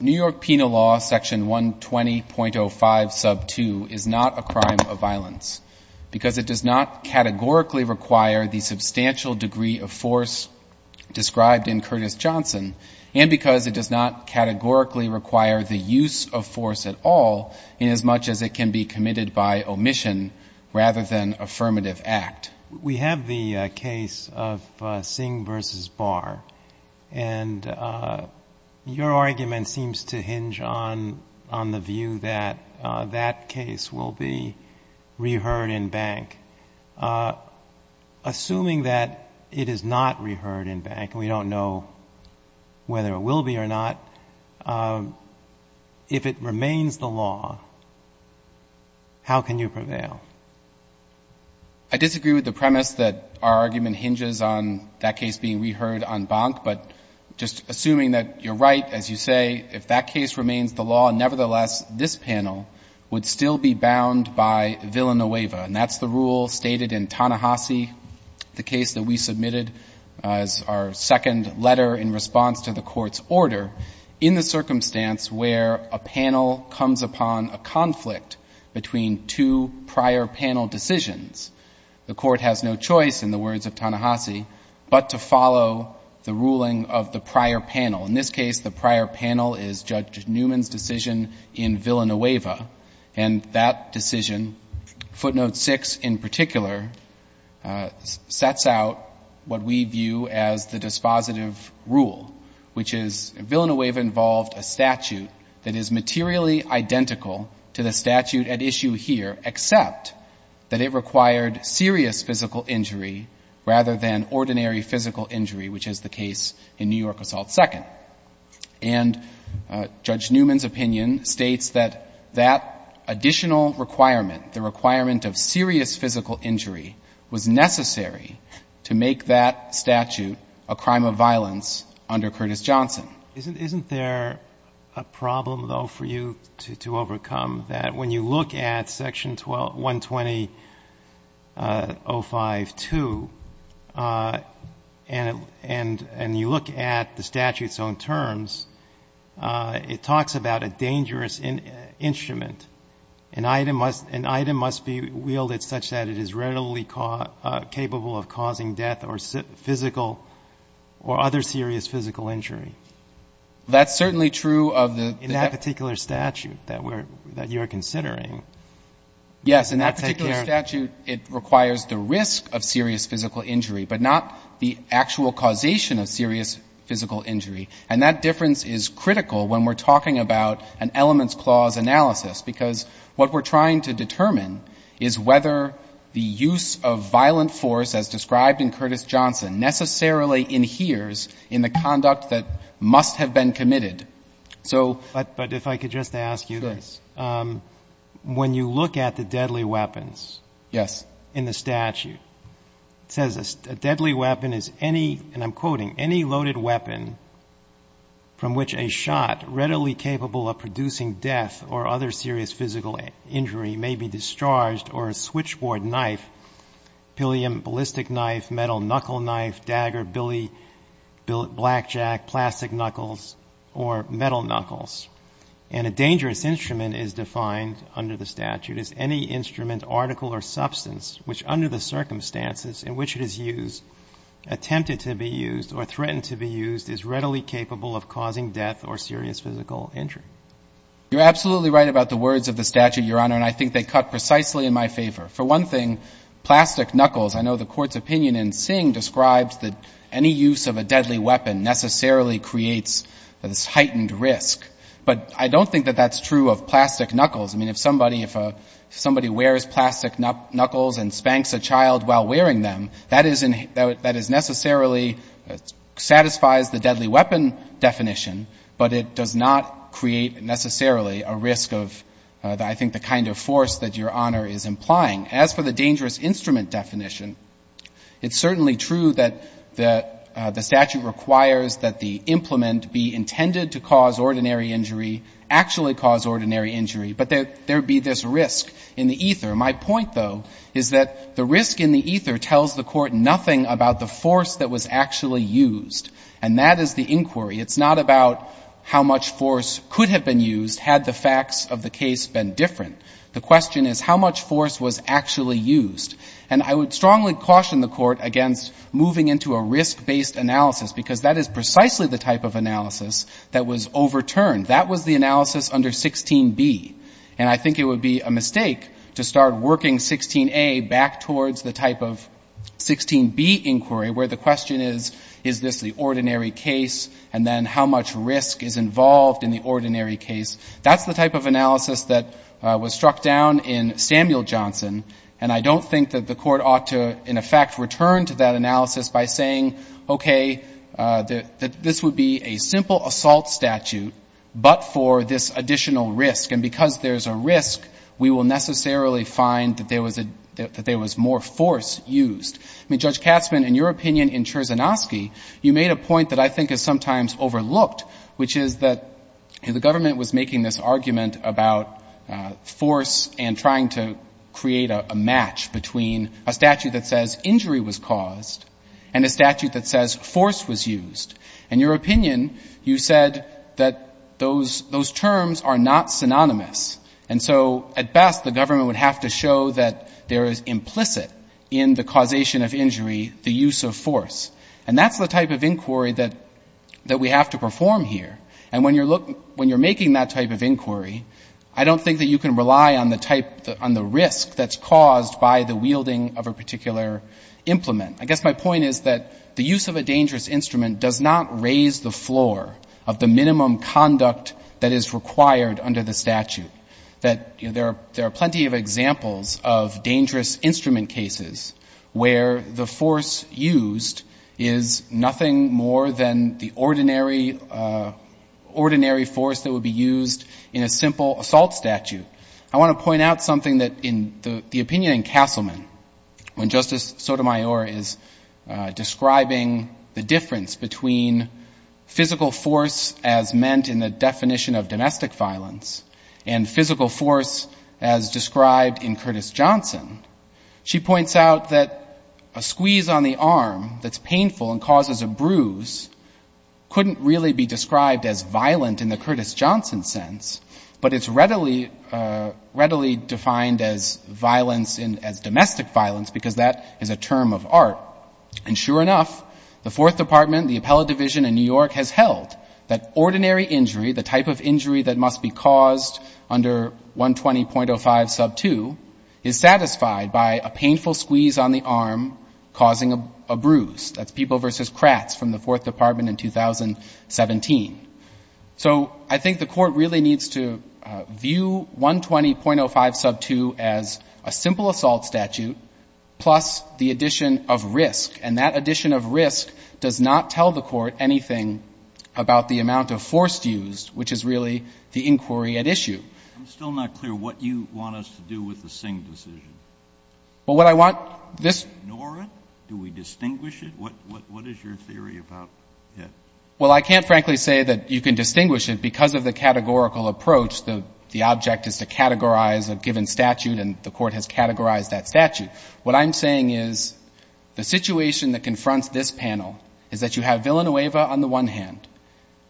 New York Penal Law, section 120.05, sub 2, is not a crime of violence because it does not categorically require the substantial degree of force described in Curtis Johnson and because it does not categorically require the use of force at all inasmuch as it can be committed by omission rather than affirmative act. We have the case of Singh v. Barr and your argument seems to hinge on the view that that case will be reheard in Bank. Assuming that it is not reheard in Bank, we don't know whether it will be or not, if it remains the law, how can you prevail? I disagree with the premise that our argument hinges on that case being reheard on Bank, but just assuming that you're right, as you say, if that case remains the law, nevertheless this panel would still be bound by villa no eva, and that's the rule stated in Ta-Nehisi, the case that we submitted as our second letter in response to the Court's order, in the circumstance where a panel comes upon a conflict between two prior panel decisions. The Court has no choice, in the words of Ta-Nehisi, but to follow the ruling of the prior panel. In this case, the prior panel is Judge Newman's decision in villa no eva, and that decision, footnote 6 in particular, sets out what we view as the dispositive rule, which is villa no eva involved a statute that is materially identical to the statute at issue here, except that it required serious physical injury rather than ordinary physical injury, which is the And Judge Newman's opinion states that that additional requirement, the requirement of serious physical injury, was necessary to make that statute a crime of violence under Curtis Johnson. Isn't there a problem, though, for you to overcome, that when you look at section 120.052, and you look at the statute's own terms, it talks about a dangerous instrument. An item must be wielded such that it is readily capable of causing death or physical or other serious physical injury. That's certainly true of the In that particular statute that you're considering. Yes. In that particular statute, it requires the risk of serious physical injury, but not the actual causation of serious physical injury. And that difference is critical when we're talking about an elements clause analysis, because what we're trying to determine is whether the use of violent force as described in Curtis Johnson necessarily adheres in the conduct that must have been committed. So But if I could just ask you this. Sure. When you look at the deadly weapons in the statute, it says a deadly weapon is any and I'm quoting, any loaded weapon from which a shot readily capable of producing death or other serious physical injury may be discharged or a switchboard knife, ballistic knife, metal knuckle knife, dagger, billy, blackjack, plastic knuckles, or metal knuckles. And a dangerous instrument is defined under the statute as any instrument, article, or substance which under the circumstances in which it is used, attempted to be used or threatened to be used, is readily capable of causing death or serious physical injury. You're absolutely right about the words of the statute, Your Honor, and I think they cut precisely in my favor. For one thing, plastic knuckles, I know the Court's opinion in Singh describes that any use of a deadly weapon necessarily creates this heightened risk. But I don't think that that's true of plastic knuckles. I mean, if somebody wears plastic knuckles and spanks a child while wearing them, that is necessarily satisfies the deadly weapon definition, but it does not create necessarily a risk of, I think, the kind of force that Your Honor is implying. As for the dangerous instrument definition, it's certainly true that the statute requires that the implement be intended to cause ordinary injury, actually cause ordinary injury, My point, though, is that the risk in the ether tells the Court nothing about the force that was actually used, and that is the inquiry. It's not about how much force could have been used had the facts of the case been different. The question is how much force was actually used. And I would strongly caution the Court against moving into a risk-based analysis because that is precisely the type of analysis that was overturned. That was the analysis under 16b. And I think it would be a mistake to start working 16a back towards the type of 16b inquiry where the question is, is this the ordinary case? And then how much risk is involved in the ordinary case? That's the type of analysis that was struck down in Samuel Johnson. And I don't think that the Court ought to, in effect, return to that analysis by saying, okay, this would be a simple assault statute, but for this additional risk. And because there's a risk, we will necessarily find that there was more force used. I mean, Judge Katzmann, in your opinion in Cherzenowski, you made a point that I think is sometimes overlooked, which is that the government was making this argument about force and trying to create a match between a statute that says injury was caused and a statute that says force was used. In your opinion, you said that those terms are not synonymous. And so, at best, the government would have to show that there is implicit in the causation of injury the use of force. And that's the type of inquiry that we have to perform here. And when you're making that type of inquiry, I don't think that you can rely on the risk that's caused by the wielding of a particular implement. I guess my point is that the use of a dangerous instrument does not raise the floor of the minimum conduct that is required under the statute. That there are plenty of examples of dangerous instrument cases where the force used is nothing more than the ordinary force that would be used in a simple assault statute. I want to point out something that in the opinion in Castleman, when Justice Sotomayor is describing the difference between physical force as meant in the definition of domestic violence and physical force as described in Curtis-Johnson, she points out that a squeeze on the arm that's painful and causes a bruise couldn't really be described as violent in the Curtis-Johnson sense, but it's readily defined as domestic violence because that is a term of art. And sure enough, the Fourth Department, the appellate division in New York has held that ordinary injury, the type of injury that must be caused under 120.05 sub 2, is satisfied by a painful squeeze on the arm causing a bruise. That's people versus crats from the Fourth Department in 2017. So I think the Court really needs to view 120.05 sub 2 as a simple assault statute plus the addition of risk, and that addition of risk does not tell the Court anything about the amount of force used, which is really the inquiry at issue. I'm still not clear what you want us to do with the Singh decision. Well, what I want this... Do we ignore it? Do we distinguish it? What is your theory about it? Well, I can't frankly say that you can distinguish it because of the categorical approach. The object is to categorize a given statute and the Court has categorized that statute. What I'm saying is the situation that confronts this panel is that you have Villanueva on the one hand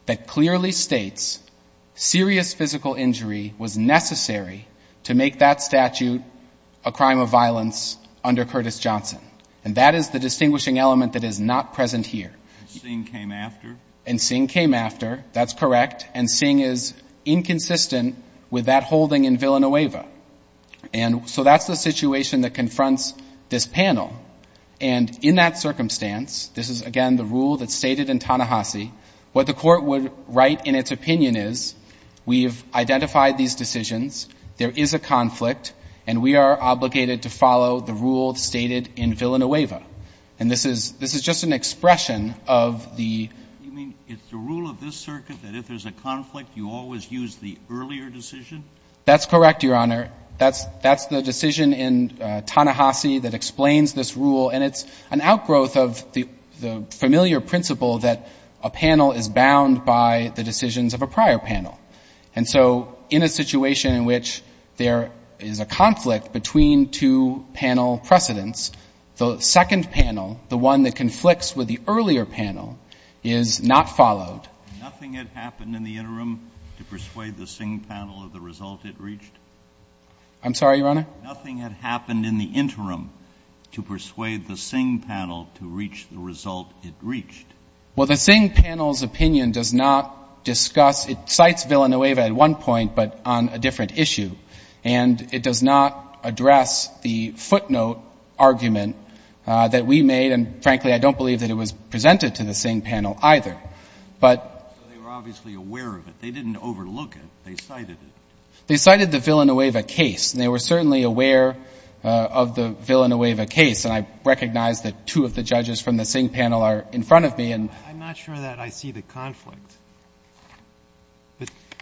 that clearly states serious physical injury was necessary to make that statute a crime of violence under Curtis-Johnson. And that is the distinguishing element that is not present here. And Singh came after? And Singh came after, that's correct. And Singh is inconsistent with that holding in Villanueva. And so that's the situation that confronts this panel. And in that circumstance, this is again the rule that's stated in Ta-Nehisi, what the Court would write in its opinion is we've identified these decisions, there is a conflict, and we are obligated to follow the rule stated in Villanueva. And this is just an expression of the — You mean it's the rule of this circuit that if there's a conflict, you always use the earlier decision? That's correct, Your Honor. That's the decision in Ta-Nehisi that explains this rule. And it's an outgrowth of the familiar principle that a panel is bound by the decisions of a prior panel. And so in a situation in which there is a conflict between two panel precedents, the second panel, the one that conflicts with the earlier panel, is not followed. Nothing had happened in the interim to persuade the Singh panel of the result it reached? I'm sorry, Your Honor? Nothing had happened in the interim to persuade the Singh panel to reach the result it reached. Well, the Singh panel's opinion does not discuss — it cites Villanueva at one point, but on a different issue. And it does not address the footnote argument that we made, and frankly, I don't believe that it was presented to the Singh panel either. So they were obviously aware of it. They didn't overlook it. They cited it. They cited the Villanueva case, and they were certainly aware of the Villanueva case. And I recognize that two of the judges from the Singh panel are in front of me. I'm not sure that I see the conflict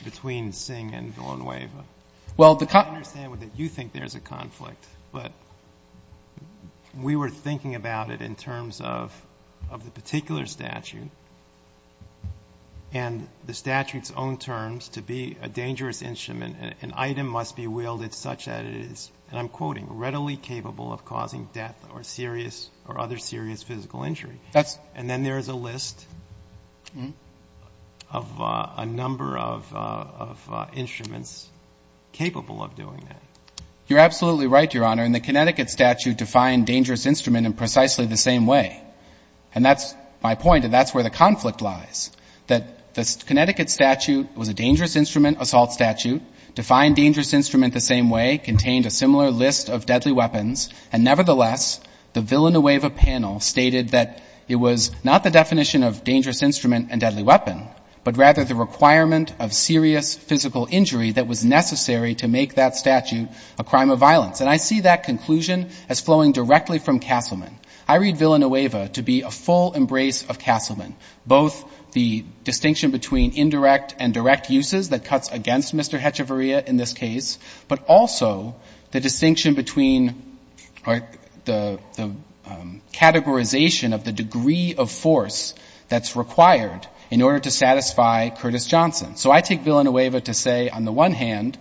between Singh and Villanueva. Well, the — I understand that you think there's a conflict, but we were thinking about it in terms of the particular statute and the statute's own terms to be a dangerous instrument. An item must be wielded such that it is, and I'm quoting, "... readily capable of causing death or serious or other serious physical injury." That's — And then there is a list of a number of instruments capable of doing that. You're absolutely right, Your Honor, and the Connecticut statute defined dangerous instrument in precisely the same way. And that's my point, and that's where the conflict lies, that the Connecticut statute was a dangerous instrument assault statute, defined dangerous instrument the same way, contained a similar list of deadly weapons, and nevertheless, the Villanueva panel stated that it was not the definition of dangerous instrument and deadly weapon, but rather the requirement of serious physical injury that was necessary to make that statute a crime of violence. And I see that conclusion as flowing directly from Castleman. I read Villanueva to be a full embrace of Castleman, both the distinction between indirect and direct uses that cuts against Mr. Hechevarria in this case, but also the distinction between the categorization of the degree of force that's required in order to satisfy Curtis Johnson. So I take Villanueva to say, on the one hand,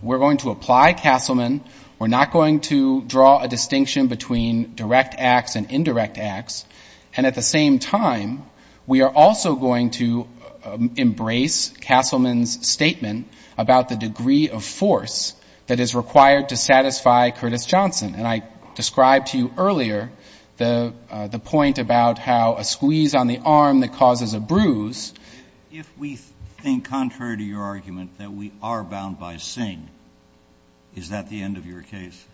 we're going to apply Castleman. We're not going to draw a distinction between direct acts and indirect acts, and at the same time, we are also going to embrace Castleman's statement about the degree of force that is required to satisfy Curtis Johnson. And I described to you earlier the point about how a squeeze on the arm that causes a bruise. If we think, contrary to your argument, that we are bound by Singh, is that the end of your case?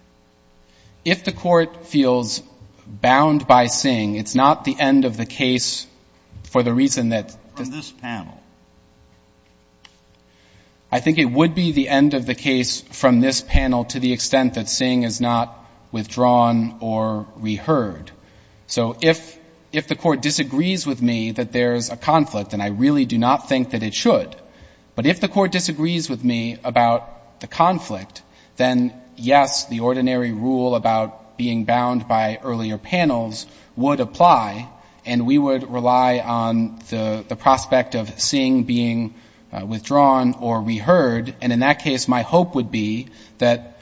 If the court feels bound by Singh, it's not the end of the case for the reason that. From this panel. I think it would be the end of the case from this panel to the extent that Singh is not withdrawn or reheard. So if the court disagrees with me that there's a conflict, and I really do not think that it should, but if the court disagrees with me about the conflict, then yes, the ordinary rule about being bound by earlier panels would apply, and we would rely on the prospect of Singh being withdrawn or reheard, and in that case, my hope would be that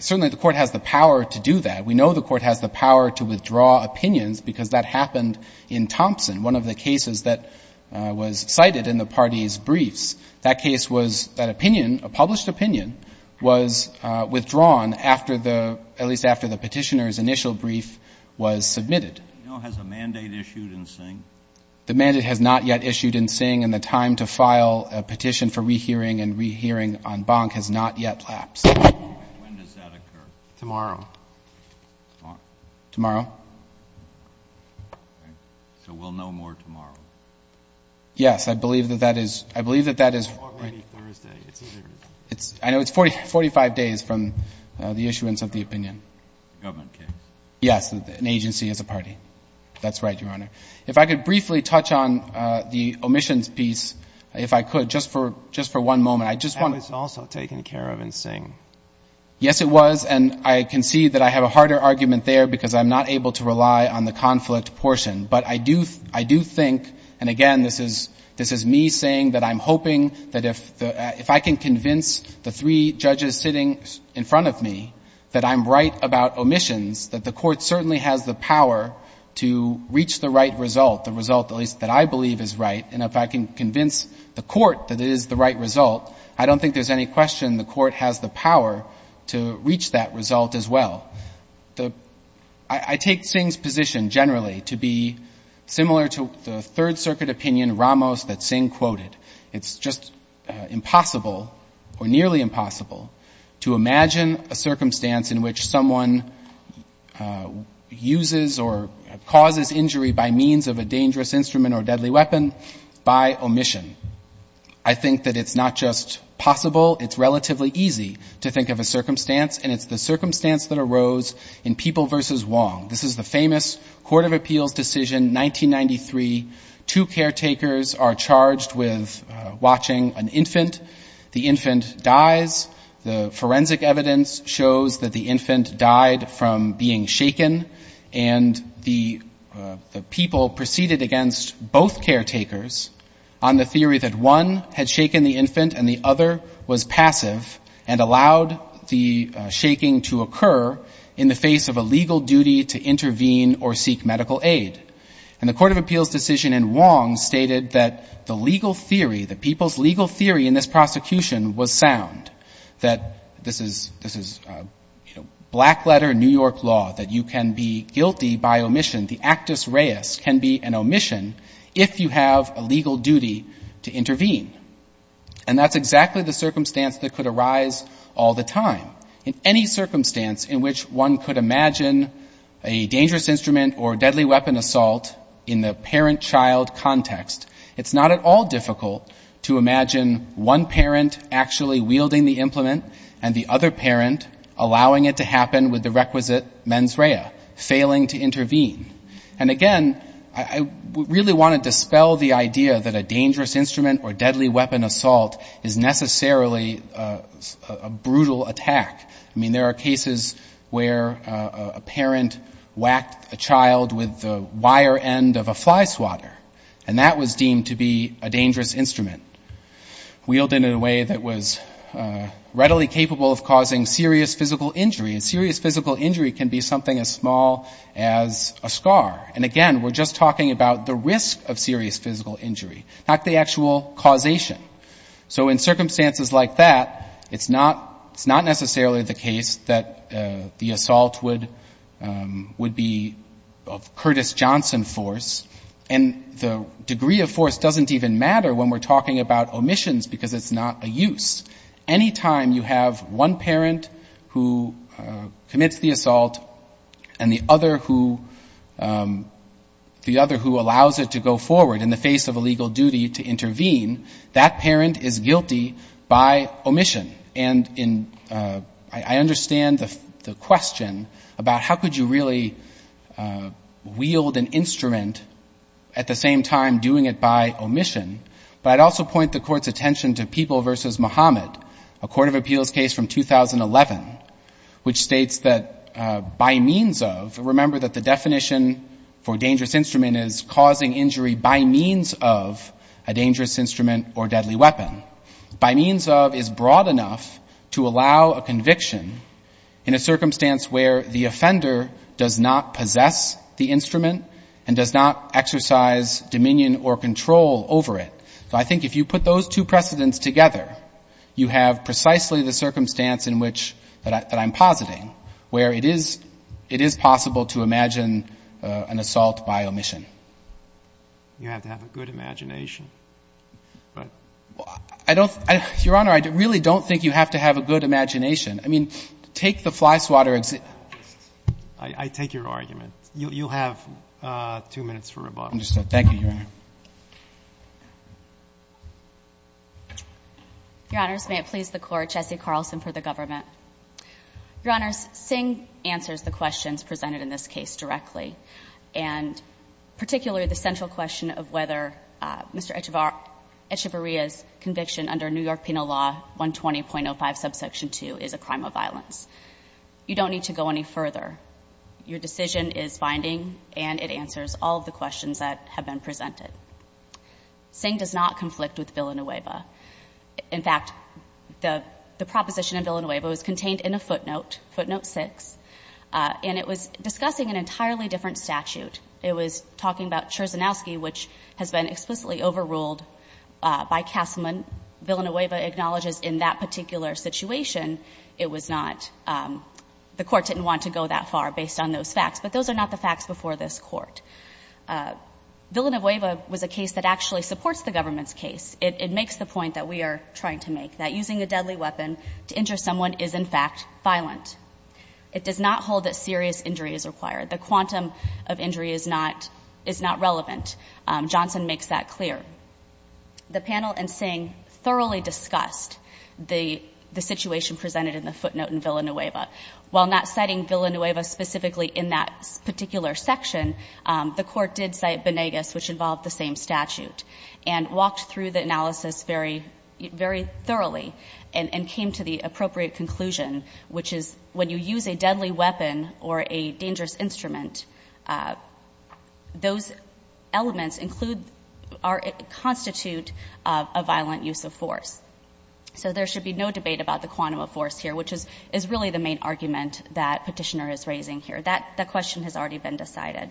certainly the court has the power to do that. We know the court has the power to withdraw opinions because that happened in Thompson, one of the cases that was cited in the party's briefs. That case was that opinion, a published opinion, was withdrawn after the, at least after the Petitioner's initial brief was submitted. Has a mandate issued in Singh? The mandate has not yet issued in Singh, and the time to file a petition for rehearing and rehearing on Bonk has not yet lapsed. When does that occur? Tomorrow. Tomorrow? So we'll know more tomorrow. Yes, I believe that that is, I believe that that is. Or maybe Thursday. I know it's 45 days from the issuance of the opinion. Government case. Yes, an agency is a party. That's right, Your Honor. If I could briefly touch on the omissions piece, if I could, just for, just for one moment. I just want to. That was also taken care of in Singh. Yes, it was, and I can see that I have a harder argument there because I'm not able to rely on the conflict portion, but I do, I do think, and again, this is, this is me saying that I'm hoping that if the, if I can convince the three judges sitting in front of me that I'm right about omissions, that the court certainly has the power to reach the right result, the result at least that I believe is right, and if I can convince the court that it is the right result, I don't think there's any question the court has the power to reach that result as well. The, I take Singh's position generally to be similar to the Third Circuit opinion Ramos that Singh quoted. It's just impossible or nearly impossible to imagine a circumstance in which someone uses or causes injury by means of a dangerous instrument or deadly weapon by omission. I think that it's not just possible, it's relatively easy to think of a circumstance, and it's the circumstance that arose in People v. Wong. This is the famous Court of Appeals decision 1993. Two caretakers are charged with watching an infant. The infant dies. The forensic evidence shows that the infant died from being shaken, and the, the People proceeded against both caretakers on the theory that one had shaken the infant and the other was passive and allowed the shaking to occur in the face of a legal duty to intervene or seek medical aid. And the Court of Appeals decision in Wong stated that the legal theory, the People's legal theory in this prosecution was sound. That this is, this is, you know, black letter New York law. That you can be guilty by omission. The actus reus can be an omission if you have a legal duty to intervene. And that's exactly the circumstance that could arise all the time. In any circumstance in which one could imagine a dangerous instrument or deadly weapon assault in the parent-child context, it's not at all difficult to imagine one parent actually wielding the implement and the other parent allowing it to happen with the requisite mens rea, failing to intervene. And again, I, I really want to dispel the idea that a dangerous instrument or deadly weapon assault is necessarily a, a brutal attack. I mean, there are cases where a parent whacked a child with the wire end of a fly swatter. And that was deemed to be a dangerous instrument. Wielded in a way that was readily capable of causing serious physical injury. And serious physical injury can be something as small as a scar. And again, we're just talking about the risk of serious physical injury. Not the actual causation. So in circumstances like that, it's not, it's not necessarily the case that the assault would, would be of Curtis Johnson force. And the degree of force doesn't even matter when we're talking about omissions because it's not a use. Anytime you have one parent who commits the assault and the other who, the other who allows it to go forward in the face of a legal duty to intervene, that parent is guilty by omission. And in, I, I understand the, the question about how could you really wield an instrument at the same time doing it by omission. But I'd also point the court's attention to People v. Muhammad, a court of appeals case from 2011, which states that by means of, remember that the definition for dangerous instrument is causing injury by means of a dangerous instrument or deadly weapon. By means of is broad enough to allow a conviction in a circumstance where the offender does not possess the instrument and does not exercise dominion or control over it. So I think if you put those two precedents together, you have precisely the circumstance in which, that I'm positing, where it is, it is possible to imagine an assault by omission. You have to have a good imagination. I don't, Your Honor, I really don't think you have to have a good imagination. I mean, take the flyswatter example. I take your argument. You'll have two minutes for rebuttal. Understood. Thank you, Your Honor. Your Honors, may it please the Court, Jessie Carlson for the government. Your Honors, Singh answers the questions presented in this case directly. And particularly, the central question of whether Mr. Echevarria's conviction under New York Penal Law 120.05, subsection 2 is a crime of violence. You don't need to go any further. Your decision is binding and it answers all of the questions that have been presented. Singh does not conflict with Villanueva. In fact, the proposition in Villanueva was contained in a footnote, footnote 6, and it was discussing an entirely different statute. It was talking about Cherzynowski, which has been explicitly overruled by Castleman. Villanueva acknowledges in that particular situation, it was not, the Court didn't want to go that far based on those facts, but those are not the facts before this Court. Villanueva was a case that actually supports the government's case. It makes the point that we are trying to make, that using a deadly weapon to injure someone is in fact violent. It does not hold that serious injury is required. The quantum of injury is not relevant. Johnson makes that clear. The panel and Singh thoroughly discussed the situation presented in the footnote in Villanueva. While not citing Villanueva specifically in that particular section, the Court did cite Benegas, which involved the same statute. And walked through the analysis very thoroughly and came to the appropriate conclusion, which is when you use a deadly weapon or a dangerous instrument, those elements include or constitute a violent use of force. So there should be no debate about the quantum of force here, which is really the main argument that Petitioner is raising here. That question has already been decided.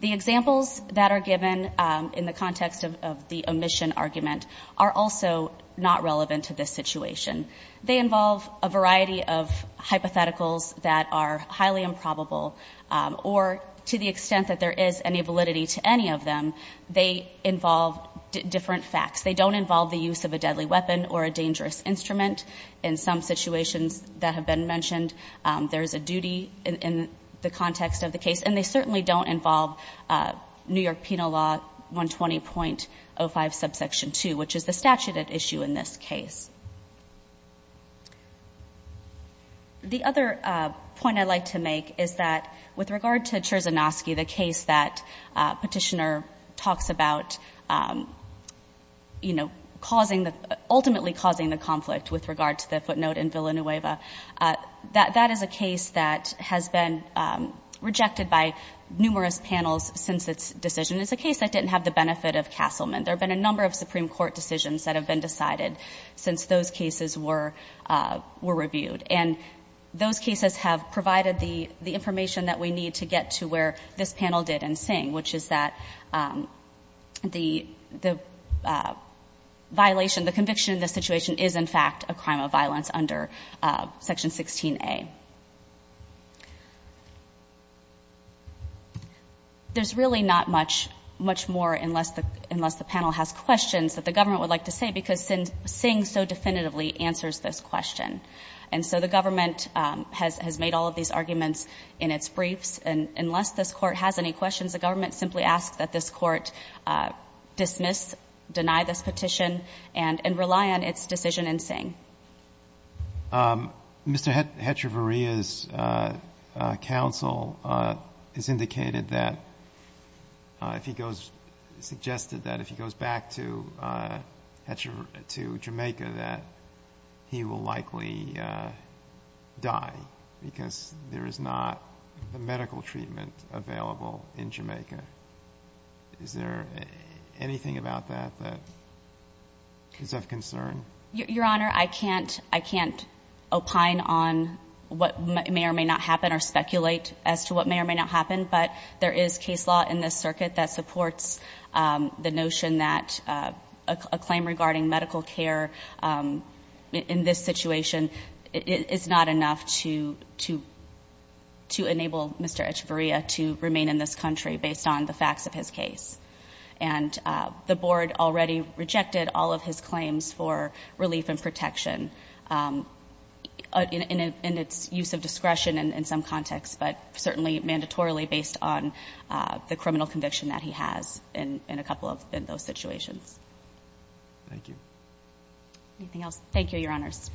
The examples that are given in the context of the omission argument are also not relevant to this situation. They involve a variety of hypotheticals that are highly improbable, or to the extent that there is any validity to any of them, they involve different facts. They don't involve the use of a deadly weapon or a dangerous instrument. In some situations that have been mentioned, there's a duty in the context of the case. And they certainly don't involve New York Penal Law 120.05 subsection two, which is the statute at issue in this case. The other point I'd like to make is that with regard to Cherzenowski, the case that Petitioner talks about, ultimately causing the conflict with regard to the footnote in Villanueva. That is a case that has been rejected by numerous panels since its decision. It's a case that didn't have the benefit of Castleman. There have been a number of Supreme Court decisions that have been decided since those cases were reviewed. And those cases have provided the information that we need to get to where this panel did in Singh, which is that the violation, the conviction in this situation is in fact a crime of violence under section 16A. There's really not much more unless the panel has questions that the government would like to say because Singh so definitively answers this question. And so the government has made all of these arguments in its briefs. And unless this Court has any questions, the government simply asks that this Court dismiss, deny this petition, and rely on its decision in Singh. Mr. Hetcheverry's counsel has indicated that if he goes, suggested that if he goes back to Jamaica, that he will likely die because there is not a medical treatment available in Jamaica. Is there anything about that that is of concern? Your Honor, I can't opine on what may or may not happen or speculate as to what may or may not happen, but there is case law in this circuit that supports the notion that a claim regarding medical care in this situation is not enough to enable Mr. Hetcheverry to remain in this country based on the facts of his case. And the board already rejected all of his claims for relief and protection in its use of discretion in some context, but certainly mandatorily based on the criminal conviction that he has in a couple of those situations. Thank you. Anything else? Thank you, Your Honors.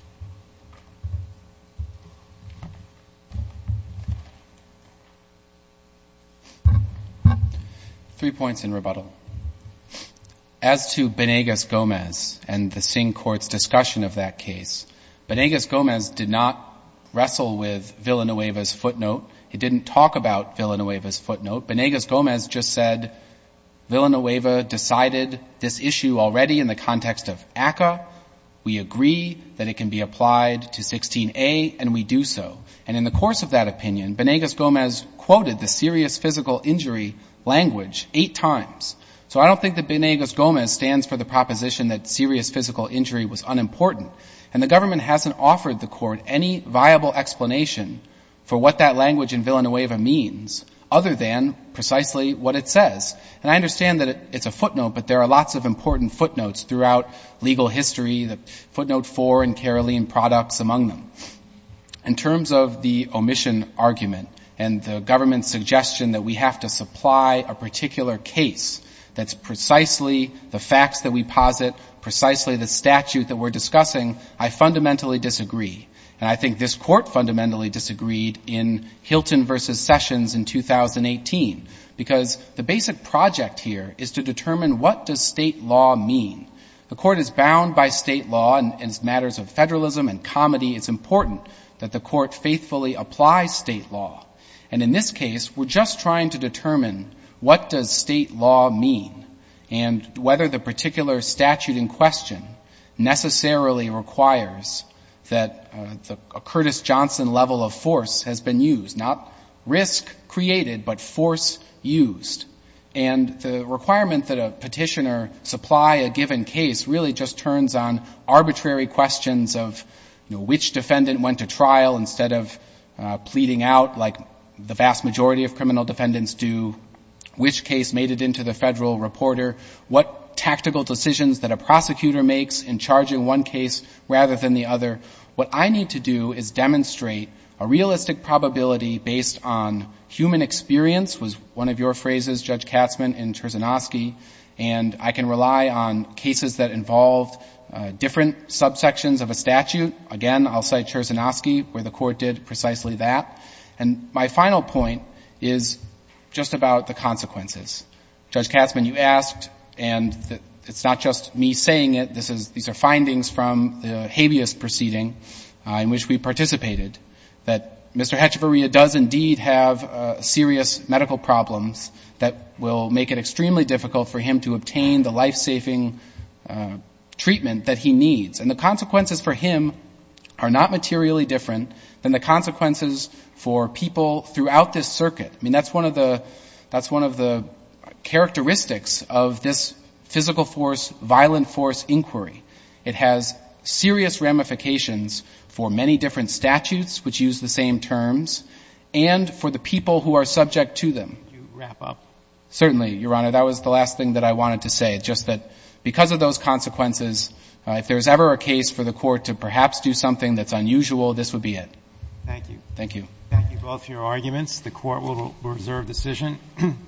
Three points in rebuttal. As to Bonegas-Gomez and the Singh Court's discussion of that case, Bonegas-Gomez did not wrestle with Villanueva's footnote. He didn't talk about Villanueva's footnote. Bonegas-Gomez just said Villanueva decided this issue already in the context of ACCA. We agree that it can be applied to 16A, and we do so. And in the course of that opinion, Bonegas-Gomez quoted the serious physical injury language eight times. So I don't think that Bonegas-Gomez stands for the proposition that serious physical injury was unimportant. And the government hasn't offered the court any viable explanation for what that language in Villanueva means other than precisely what it says. And I understand that it's a footnote, but there are lots of important footnotes throughout legal history, the footnote four and caroline products among them. In terms of the omission argument and the government's suggestion that we have to supply a particular case that's precisely the facts that we posit, precisely the statute that we're discussing, I fundamentally disagree. And I think this court fundamentally disagreed in Hilton versus Sessions in 2018 because the basic project here is to determine what does state law mean. The court is bound by state law and as matters of federalism and comedy, it's important that the court faithfully applies state law. And in this case, we're just trying to determine what does state law mean and whether the particular statute in question necessarily requires that a Curtis Johnson level of force has been used, not risk created, but force used. And the requirement that a petitioner supply a given case really just turns on defendant went to trial instead of pleading out like the vast majority of criminal defendants do, which case made it into the federal reporter, what tactical decisions that a prosecutor makes in charging one case rather than the other. What I need to do is demonstrate a realistic probability based on human experience was one of your phrases, judge Katzman and Terzanoski. And I can rely on cases that involved different subsections of a statute. Again, I'll cite Terzanoski where the court did precisely that. And my final point is just about the consequences. Judge Katzman, you asked and it's not just me saying it, these are findings from the habeas proceeding in which we participated, that Mr. Hatcheveria does indeed have serious medical problems that will make it extremely difficult for him to obtain the life-saving treatment that he needs. And the consequences for him are not materially different than the consequences for people throughout this circuit. I mean, that's one of the characteristics of this physical force, violent force inquiry. It has serious ramifications for many different statutes which use the same terms and for the people who are subject to them. Can you wrap up? Certainly, Your Honor. That was the last thing that I wanted to say, just that because of those circumstances, it's not our case for the court to perhaps do something that's unusual, this would be it. Thank you. Thank you. Thank you both for your arguments. The Court will reserve decision.